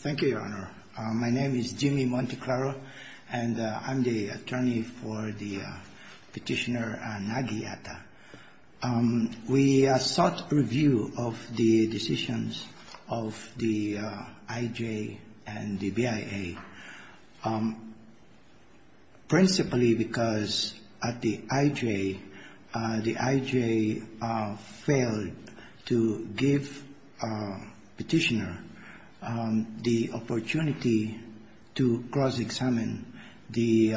Thank you, Your Honor. My name is Jimmy Monteclaro, and I'm the attorney for Petitioner Nagiyata. We sought review of the decisions of the IJ and the BIA, principally because at the IJ, the IJ failed to give Petitioner the opportunity to cross-examine the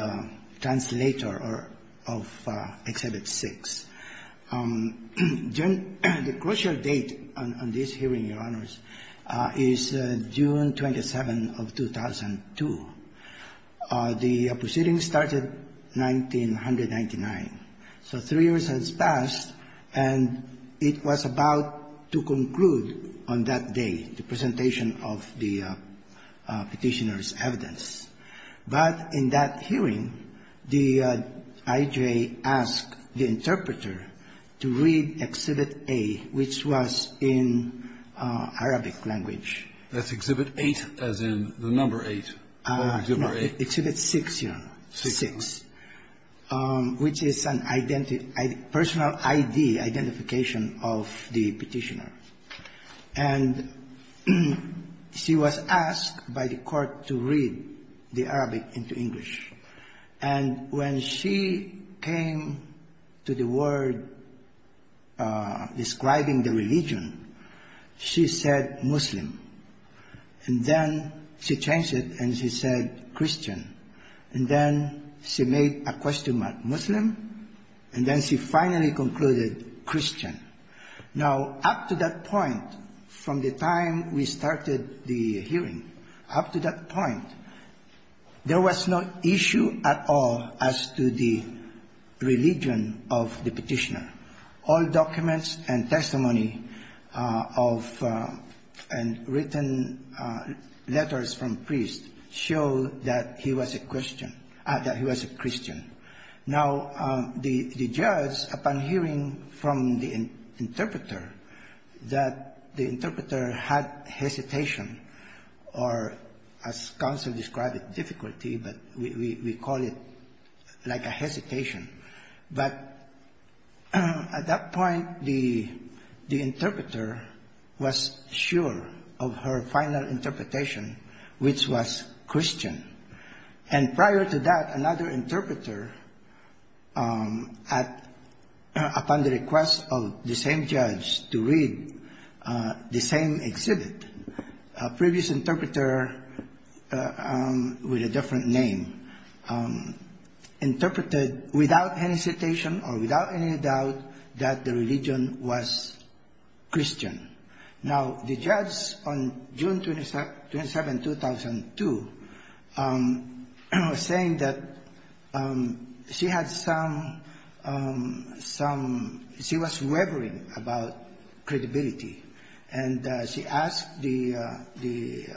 translator of Exhibit 6. The crucial date on this hearing, Your Honors, is June 27 of 2002. The proceeding started in 1999. So three years has passed, and it was about to conclude on that day, the presentation of the Petitioner's evidence. But in that hearing, the IJ asked the interpreter to read Exhibit A, which was in Arabic language. That's Exhibit 8, as in the number 8, or Exhibit 8. Exhibit 6, Your Honor, 6, which is an identity, personal ID, identification of the Petitioner. And she was asked by the court to read the Arabic into English. And when she came to the word describing the religion, she said Muslim. And then she changed it, and she said Christian. And then she made a question mark Muslim, and then she finally concluded Christian. Now, up to that point, from the time we started the hearing, up to that point, there was no issue at all as to the religion of the Petitioner. All documents and testimony of written letters from priests show that he was a Christian. Now, the judge, upon hearing from the interpreter, that the interpreter had hesitation or, as counsel we call it, like a hesitation. But at that point, the interpreter was sure of her final interpretation, which was Christian. And prior to that, another interpreter, upon the request of the same judge to read the same exhibit, a previous interpreter with a different name, interpreted without any hesitation or without any doubt that the religion was Christian. Now, the judge on June 27, 2002, saying that she had some, some, she was wavering about credibility, and she asked the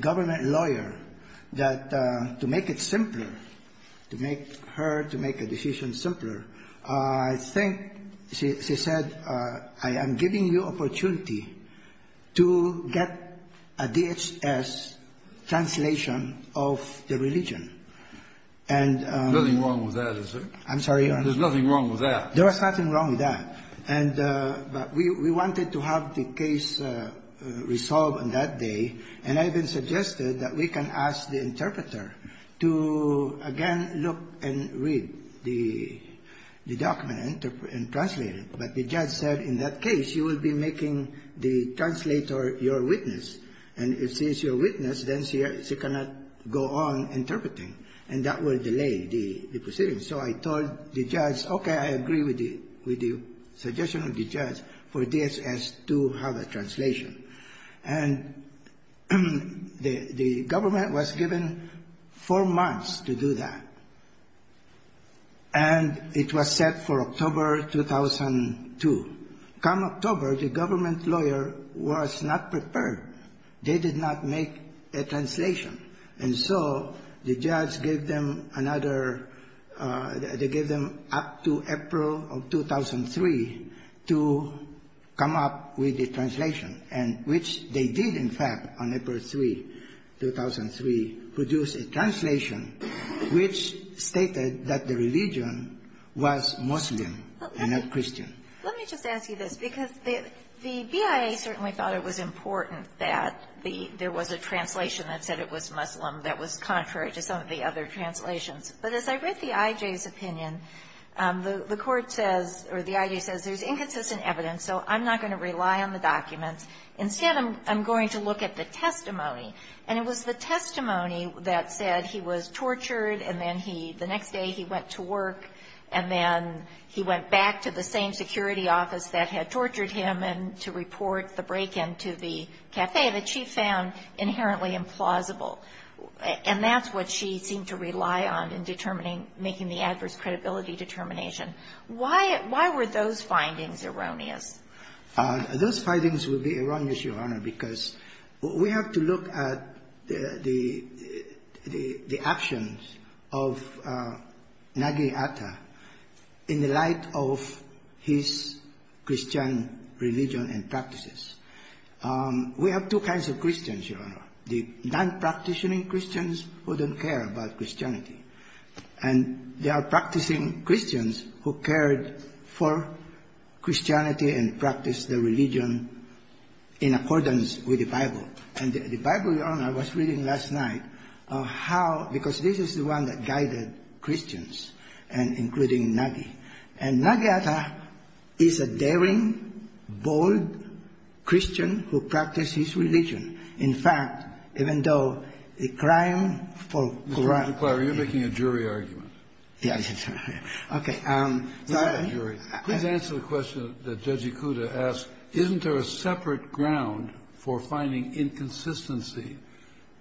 government lawyer that to make it simpler, to make her, to make a decision simpler, I think she said, I am giving you opportunity to get a DHS translation of the religion. And the Judge said, I'm sorry, Your Honor. There's nothing wrong with that. There was nothing wrong with that. And, but we, we wanted to have the case resolved on that day. And I even suggested that we can ask the interpreter to again look and read the, the document and translate it. But the judge said, in that case, you will be making the translator your witness. And if she is your witness, then she cannot go on with the, with the suggestion of the judge for DHS to have a translation. And the, the government was given four months to do that. And it was set for October 2002. Come October, the government lawyer was not prepared. They did not make a translation. And so, the judge gave them another, they gave them up to April of 2003 to come up with the translation, and which they did, in fact, on April 3, 2003, produce a translation which stated that the religion was Muslim and not Christian. Let me just ask you this, because the, the BIA certainly thought it was important that the, there was a translation that said it was Muslim that was contrary to some of the other translations. But as I read the I.J.'s opinion, the Court says, or the I.J. says, there's inconsistent evidence, so I'm not going to rely on the documents. Instead, I'm, I'm going to look at the testimony. And it was the testimony that said he was tortured, and then he, the next day, he went to work, and then he went back to the same security office that had tortured him and to report the break-in to the cafe that she found inherently implausible. And that's what she seemed to rely on in determining, making the adverse credibility determination. Why, why were those findings erroneous? Those findings will be erroneous, Your Honor, because we have to look at the, the, the actions of Nagi Atta in the light of his Christian religion and practices. We have two kinds of Christians, Your Honor, the non-practitioning Christians who don't care about Christianity, and there are practicing Christians who cared for Christianity and practiced the religion in accordance with the Bible. And the Bible, Your Honor, I was reading last night, how, because this is the one that guided Christians, and including Nagi. And Nagi Atta is a daring, bold Christian who practices religion. In fact, even though the crime for corruption was a crime for corruption. Mr. DeClaro, you're making a jury argument. Yes, I'm sorry. Okay. I'm not a jury. Please answer the question that Judge Ikuda asked. Isn't there a separate ground for finding inconsistency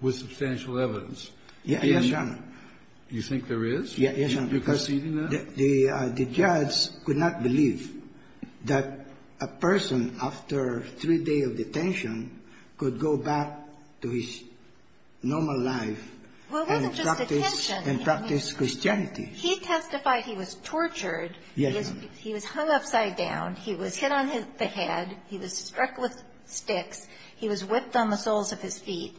with substantial evidence? Yes, Your Honor. You think there is? Yes, Your Honor. You're proceeding that? The judge could not believe that a person after three days of detention could go back to his normal life and practice Christianity. Well, it wasn't just detention. He testified he was tortured. Yes, Your Honor. He was hung upside down. He was hit on the head. He was struck with sticks. He was whipped on the soles of his feet.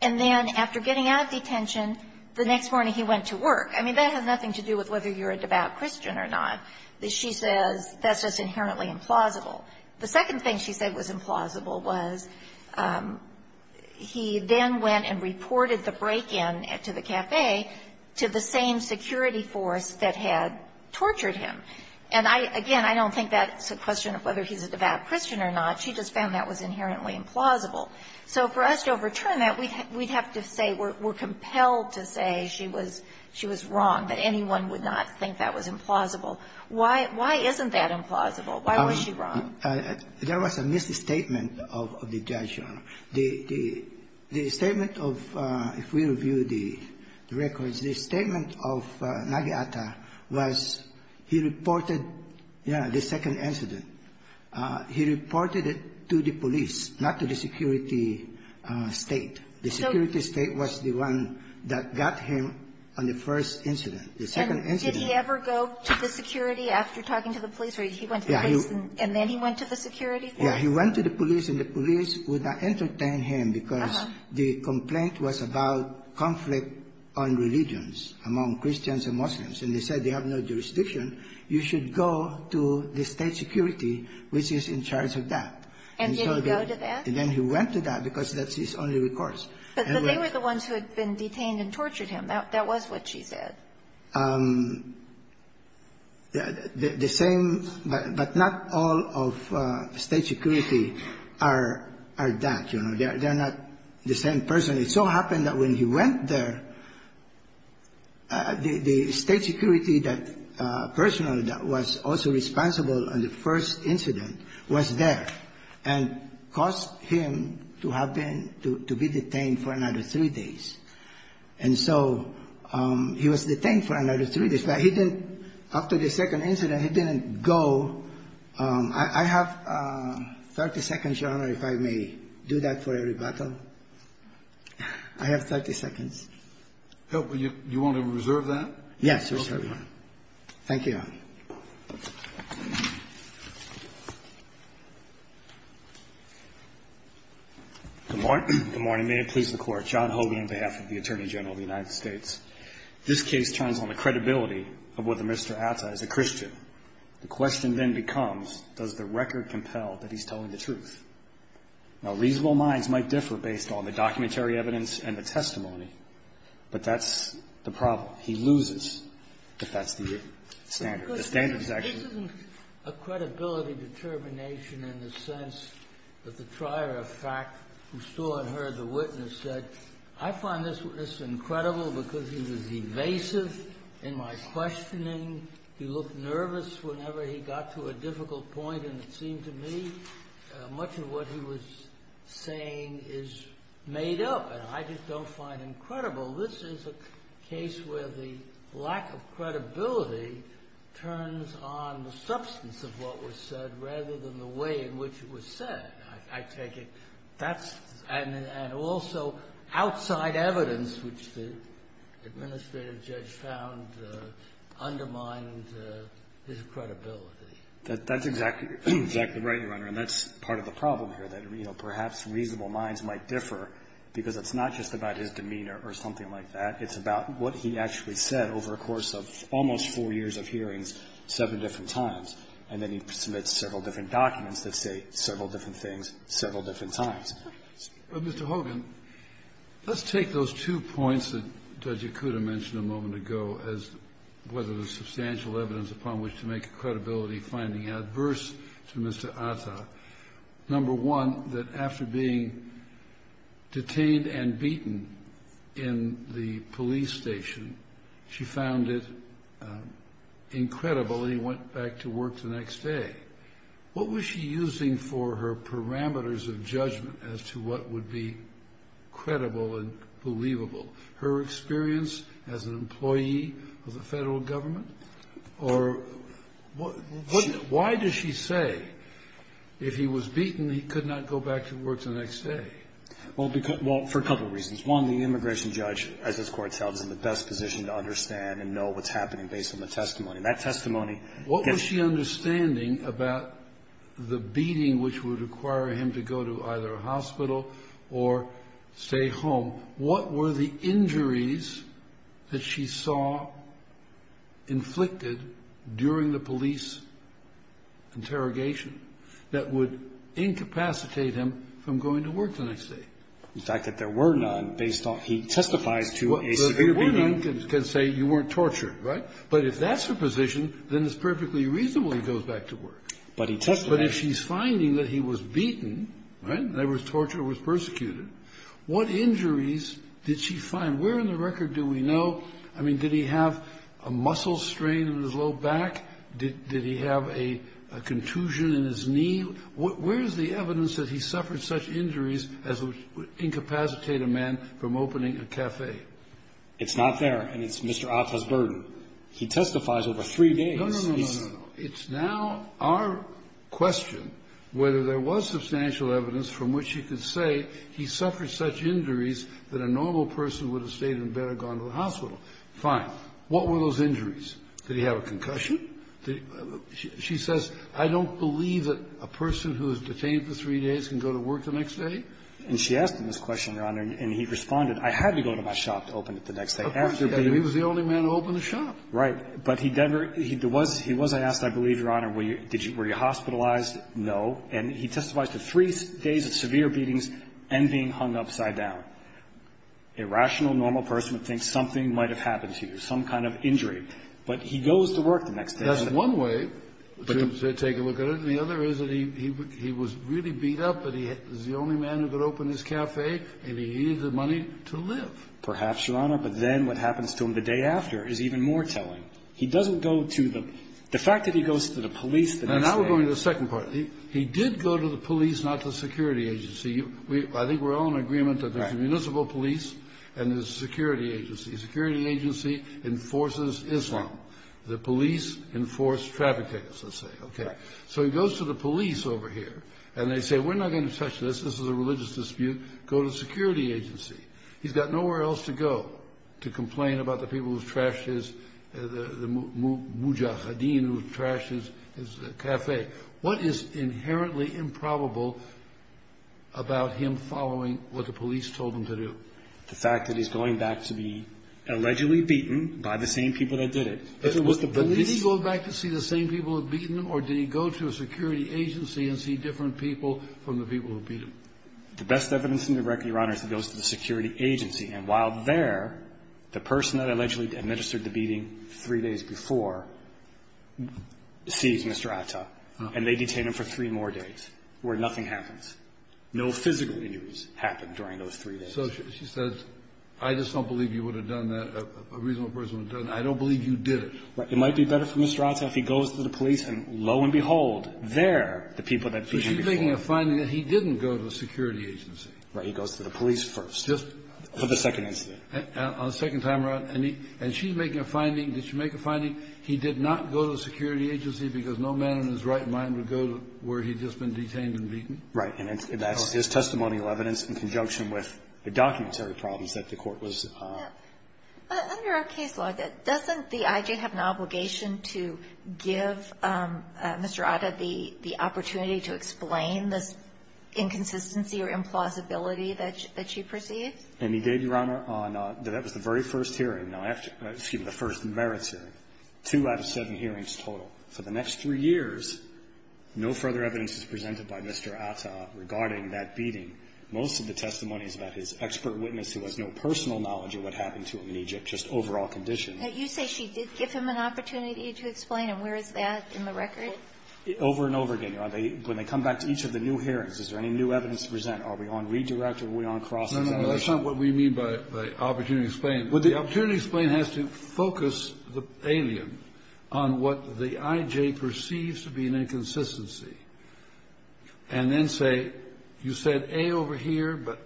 And then after getting out of detention, the next morning he went to work. I mean, that has nothing to do with whether you're a devout Christian or not. She says that's just inherently implausible. The second thing she said was implausible was he then went and reported the break-in to the cafe to the same security force that had tortured him. And, again, I don't think that's a question of whether he's a devout Christian or not. She just found that was inherently implausible. So for us to overturn that, we'd have to say we're compelled to say she was wrong, that anyone would not think that was implausible. Why isn't that implausible? Why was she wrong? There was a misstatement of the judge, Your Honor. The statement of the records, the statement of Nageata was he reported the second incident. He reported it to the police, not to the security state. The security state was the one that got him on the first incident. The second incident was the one that got him on the first incident. And did he ever go to the security after talking to the police? Or he went to the police and then he went to the security? Yeah. He went to the police, and the police would not entertain him because the complaint was about conflict on religions among Christians and Muslims. And they said they have no jurisdiction. You should go to the state security, which is in charge of that. And did he go to that? And then he went to that because that's his only recourse. But they were the ones who had been detained and tortured him. That was what she said. The same, but not all of state security are that. You know, they're not the same person. It so happened that when he went there, the state security that personally that was also responsible on the first incident was there and caused him to have been to be detained for another three days. And so he was detained for another three days. But he didn't, after the second incident, he didn't go. I have 30 seconds, Your Honor, if I may do that for a rebuttal. I have 30 seconds. Well, you want to reserve that? Yes, Your Honor. Thank you. Good morning. Good morning. May it please the Court. John Hogan on behalf of the Attorney General of the United States. This case turns on the credibility of whether Mr. Atta is a Christian. The question then becomes, does the record compel that he's telling the truth? Now, reasonable minds might differ based on the documentary evidence and the testimony, but that's the problem. He loses if that's the standard. The standard is actually This isn't a credibility determination in the sense that the trier of fact who saw and heard the witness said, I find this incredible because he was evasive in my questioning. He looked nervous whenever he got to a difficult point. And it seemed to me much of what he was saying is made up. And I just don't find incredible. This is a case where the lack of credibility turns on the substance of what was said rather than the way in which it was said. I take it that's and also outside evidence, which the administrative judge found undermined his credibility. That's exactly right, Your Honor. And that's part of the problem here, that, you know, perhaps reasonable minds might differ because it's not just about his demeanor or something like that. It's about what he actually said over a course of almost four years of hearings seven different times. And then he submits several different documents that say several different things several different times. But, Mr. Hogan, let's take those two points that Judge Yakuta mentioned a moment ago as whether there's substantial evidence upon which to make a credibility finding adverse to Mr. Atta. Number one, that after being detained and beaten in the police station, she found it incredible. And he went back to work the next day. What was she using for her parameters of judgment as to what would be credible and believable? Her experience as an employee of the Federal Government? Or why does she say if he was beaten, he could not go back to work the next day? Well, for a couple of reasons. One, the immigration judge, as this Court tells, is in the best position to understand and know what's happening based on the testimony. That testimony gets you. What was she understanding about the beating which would require him to go to either a hospital or stay home? What were the injuries that she saw inflicted during the police interrogation that would incapacitate him from going to work the next day? In fact, that there were none based on he testifies to a severe beating. There were none that can say you weren't tortured, right? But if that's her position, then it's perfectly reasonable he goes back to work. But he testified. But if she's finding that he was beaten, right, there was torture, was persecuted, what injuries did she find? Where in the record do we know? I mean, did he have a muscle strain in his low back? Did he have a contusion in his knee? Where is the evidence that he suffered such injuries as would incapacitate a man from opening a cafe? It's not there. And it's Mr. Atta's burden. He testifies over three days. No, no, no, no, no. It's now our question whether there was substantial evidence from which he could say he suffered such injuries that a normal person would have stayed and better gone to the hospital. Fine. What were those injuries? Did he have a concussion? She says, I don't believe that a person who is detained for three days can go to work the next day. And she asked him this question, Your Honor, and he responded, I had to go to my shop to open it the next day. He was the only man to open the shop. Right. But he was asked, I believe, Your Honor, were you hospitalized? No. And he testifies to three days of severe beatings and being hung upside down. A rational, normal person would think something might have happened to you, some kind of injury. But he goes to work the next day. That's one way to take a look at it. The other is that he was really beat up, but he was the only man who could open his cafe, and he needed the money to live. Perhaps, Your Honor. But then what happens to him the day after is even more telling. He doesn't go to the the fact that he goes to the police the next day. And now we're going to the second part. He did go to the police, not the security agency. I think we're all in agreement that there's a municipal police and there's a security agency. The security agency enforces Islam. The police enforce traffic tickets, let's say. OK. So he goes to the police over here, and they say, we're not going to touch this. This is a religious dispute. Go to the security agency. He's got nowhere else to go to complain about the people who've trashed his cafe. A dean who trashed his cafe. What is inherently improbable about him following what the police told him to do? The fact that he's going back to be allegedly beaten by the same people that did it. But did he go back to see the same people who'd beaten him, or did he go to a security agency and see different people from the people who'd beat him? The best evidence in the record, Your Honor, is he goes to the security agency. And while there, the person that allegedly administered the beating three days before sees Mr. Atta, and they detain him for three more days, where nothing happens. No physical injuries happened during those three days. So she says, I just don't believe you would have done that. A reasonable person would have done it. I don't believe you did it. It might be better for Mr. Atta if he goes to the police, and lo and behold, there the people that beat him before. So she's making a finding that he didn't go to a security agency. Right. He goes to the police first. Just for the second incident. On the second time around, and he – and she's making a finding, did she make a finding he did not go to a security agency because no man in his right mind would go to where he'd just been detained and beaten? Right. And that's his testimonial evidence in conjunction with the documentary problems that the Court was – But under our case law, doesn't the I.J. have an obligation to give Mr. Atta the opportunity to explain this inconsistency or implausibility that she perceived? And he did, Your Honor, on – that was the very first hearing. Now, after – excuse me, the first merits hearing. Two out of seven hearings total. For the next three years, no further evidence is presented by Mr. Atta regarding that beating. Most of the testimony is about his expert witness who has no personal knowledge of what happened to him in Egypt, just overall conditions. You say she did give him an opportunity to explain, and where is that in the record? Over and over again. When they come back to each of the new hearings, is there any new evidence to present? Are we on redirect or are we on cross-examination? That's not what we mean by opportunity to explain. The opportunity to explain has to focus the alien on what the I.J. perceives to be an inconsistency, and then say, you said A over here, but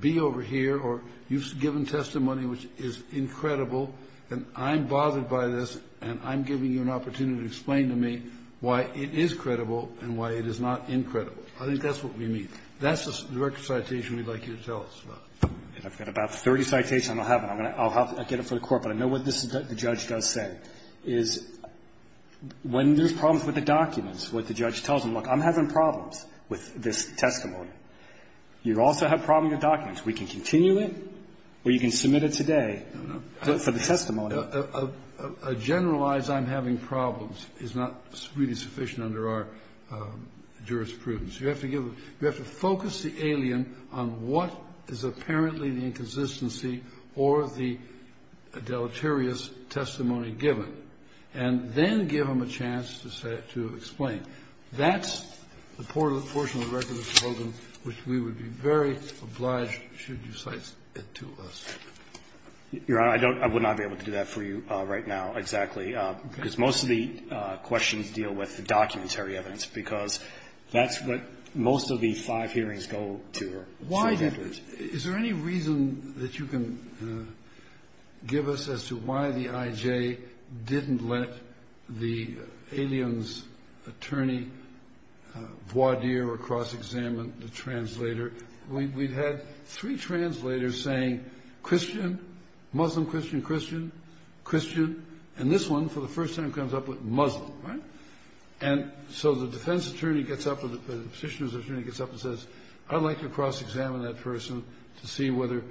B over here, or you've given testimony which is incredible, and I'm bothered by this, and I'm giving you an opportunity to explain to me why it is credible and why it is not incredible. I think that's what we mean. That's the record citation we'd like you to tell us about. I've got about 30 citations. I don't have them. I'll get them for the Court, but I know what the judge does say, is when there's problems with the documents, what the judge tells them, look, I'm having problems with this testimony. You also have problems with documents. We can continue it or you can submit it today for the testimony. A generalized I'm having problems is not really sufficient under our jurisprudence. You have to focus the alien on what is apparently the inconsistency or the deleterious testimony given, and then give them a chance to explain. That's the portion of the record that's told them which we would be very obliged should you cite it to us. Your Honor, I would not be able to do that for you right now, exactly, because most of the questions deal with the documentary evidence, because that's what most of the five hearings go to. Is there any reason that you can give us as to why the IJ didn't let the aliens' attorney voir dire or cross-examine the translator? We've had three translators saying, Christian, Muslim, Christian, Christian, Christian, and this one, for the first time, comes up with Muslim, right? And so the defense attorney gets up or the petitioner's attorney gets up and says, I'd like to cross-examine that person to see whether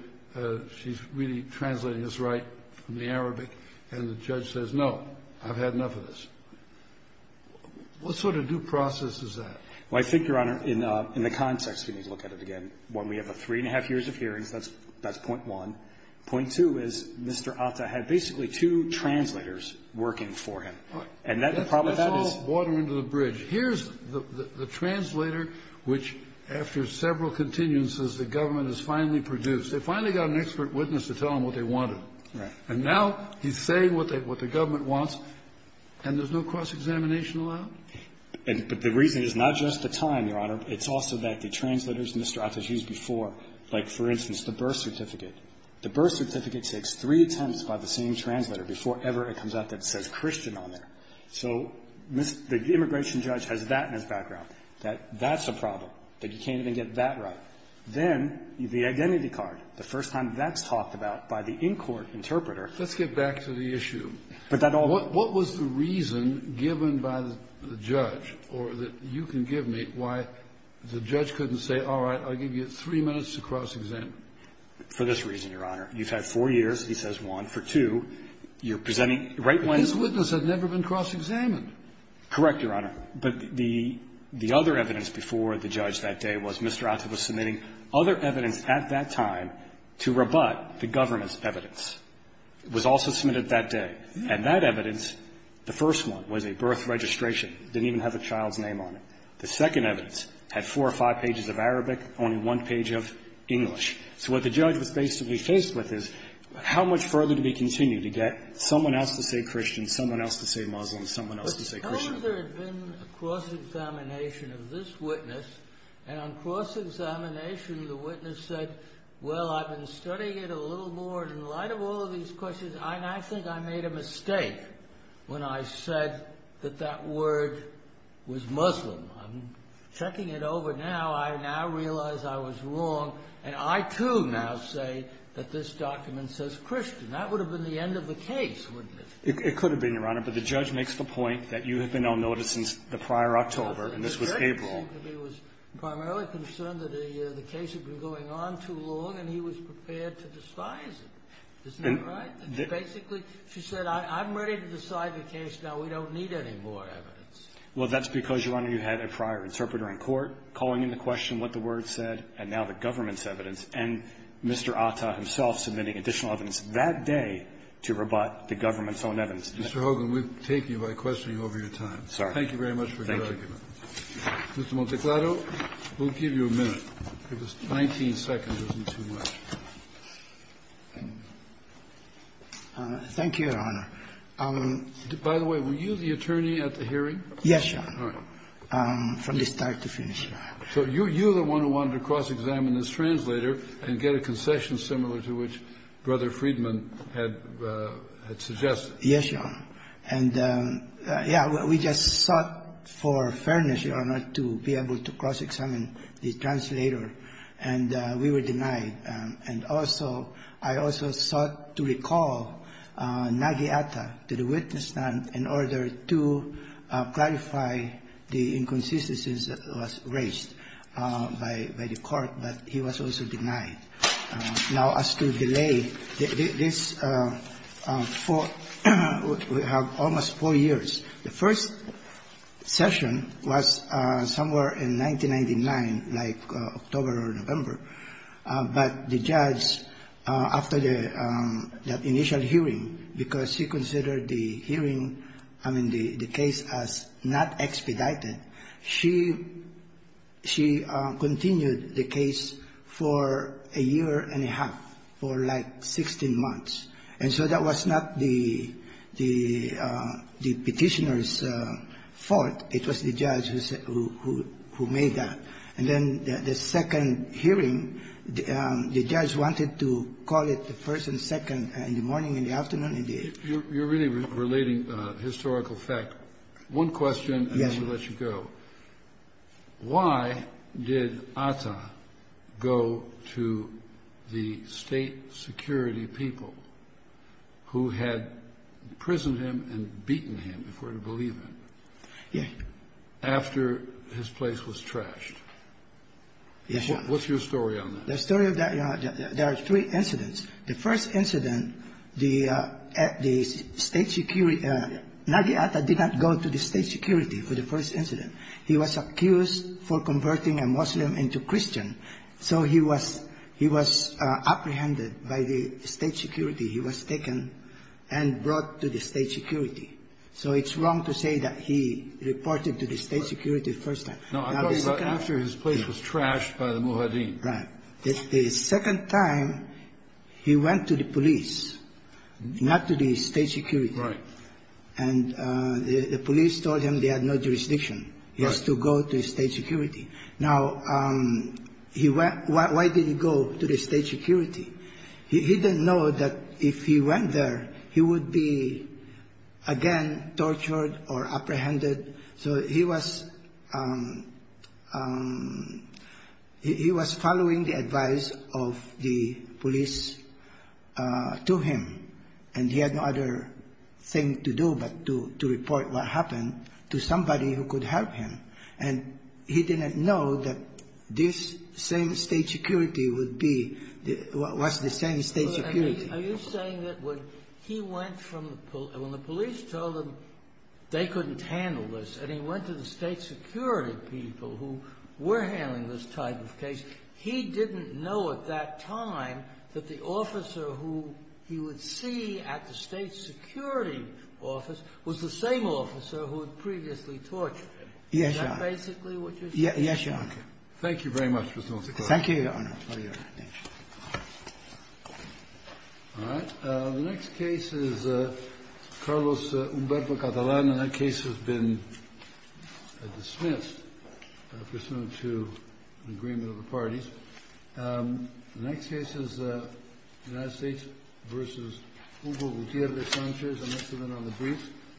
she's really translating this right from the Arabic, and the judge says, no, I've had enough of this. What sort of due process is that? Well, I think, Your Honor, in the context, we need to look at it again. One, we have a three-and-a-half years of hearings. That's point one. Point two is Mr. Atta had basically two translators working for him. And that's the problem. That's all water under the bridge. Here's the translator, which, after several continuances, the government has finally produced. They finally got an expert witness to tell them what they wanted. Right. And now he's saying what the government wants, and there's no cross-examination allowed? But the reason is not just the time, Your Honor. It's also that the translators Mr. Atta's used before, like, for instance, the birth certificate. The birth certificate takes three attempts by the same translator before ever it comes out that it says Christian on there. So the immigration judge has that in his background, that that's a problem, that you can't even get that right. Then the identity card, the first time that's talked about by the in-court interpreter. Let's get back to the issue. But that all What was the reason given by the judge, or that you can give me, why the judge couldn't say, all right, I'll give you three minutes to cross-examine? For this reason, Your Honor, you've had four years, he says, one. For two, you're presenting right when his witness had never been cross-examined. Correct, Your Honor. But the other evidence before the judge that day was Mr. Atta was submitting other evidence at that time to rebut the government's evidence. It was also submitted that day. And that evidence, the first one, was a birth registration. It didn't even have a child's name on it. The second evidence had four or five pages of Arabic, only one page of English. So what the judge was basically faced with is, how much further do we continue to get someone else to say Christian, someone else to say Muslim, someone else to say Christian? But how would there have been a cross-examination of this witness? And on cross-examination, the witness said, well, I've been studying it a little more, and in light of all of these questions, I now think I made a mistake when I said that that word was Muslim. I'm checking it over now. I now realize I was wrong. And I, too, now say that this document says Christian. That would have been the end of the case, wouldn't it? It could have been, Your Honor. But the judge makes the point that you have been on notice since the prior October, and this was April. The judge, it seems to me, was primarily concerned that the case had been going on too long, and he was prepared to despise it. Isn't that right? Basically, she said, I'm ready to decide the case now. We don't need any more evidence. Well, that's because, Your Honor, you had a prior interpreter in court calling into question what the word said, and now the government's evidence, and Mr. Atta himself submitting additional evidence that day to rebut the government's own evidence. Mr. Hogan, we take you by questioning over your time. Sorry. Thank you very much for your argument. Thank you. Mr. Monteclado, we'll give you a minute. 19 seconds isn't too much. Thank you, Your Honor. By the way, were you the attorney at the hearing? Yes, Your Honor. All right. From the start to finish, Your Honor. So you're the one who wanted to cross-examine this translator and get a concession similar to which Brother Friedman had suggested. Yes, Your Honor. And, yeah, we just sought for fairness, Your Honor, to be able to cross-examine the translator, and we were denied. And also, I also sought to recall Nagi Atta to the witness stand in order to clarify the inconsistencies that was raised by the court, but he was also denied. Now, as to delay, this for almost four years, the first session was somewhere in 1999, like October or November. But the judge, after the initial hearing, because he considered the hearing, I mean, the case, as not expedited, she continued the case for a year and a half, for like 16 months. And so that was not the Petitioner's fault. It was the judge who made that. And then the second hearing, the judge wanted to call it the first and second in the morning and the afternoon and the evening. Relating historical fact, one question, and then we'll let you go. Why did Atta go to the state security people who had imprisoned him and beaten him, if we're to believe him, after his place was trashed? What's your story on that? The story of that, Your Honor, there are three incidents. The first incident, the state security, Nagi Atta did not go to the state security for the first incident. He was accused for converting a Muslim into Christian. So he was apprehended by the state security. He was taken and brought to the state security. So it's wrong to say that he reported to the state security the first time. No, I'm talking about after his place was trashed by the Muhaddin. Right. The second time, he went to the police, not to the state security. Right. And the police told him they had no jurisdiction. He has to go to state security. Now, why did he go to the state security? He didn't know that if he went there, he would be again tortured or apprehended. So he was following the advice of the police to him. And he had no other thing to do but to report what happened to somebody who could help him. And he didn't know that this same state security would be, was the same state security. Are you saying that when he went from the police, when the police told him they couldn't handle this, and he went to the state security people who were handling this type of case, he didn't know at that time that the officer who he would see at the state security office was the same officer who had previously tortured him? Yes, Your Honor. Is that basically what you're saying? Yes, Your Honor. Thank you very much, Ms. Northacott. Thank you, Your Honor. Thank you, Your Honor. Thank you. All right. The next case is Carlos Humberto Catalán. And that case has been dismissed pursuant to an agreement of the parties. The next case is United States versus Hugo Gutiérrez Sánchez. And that's the one on the briefs.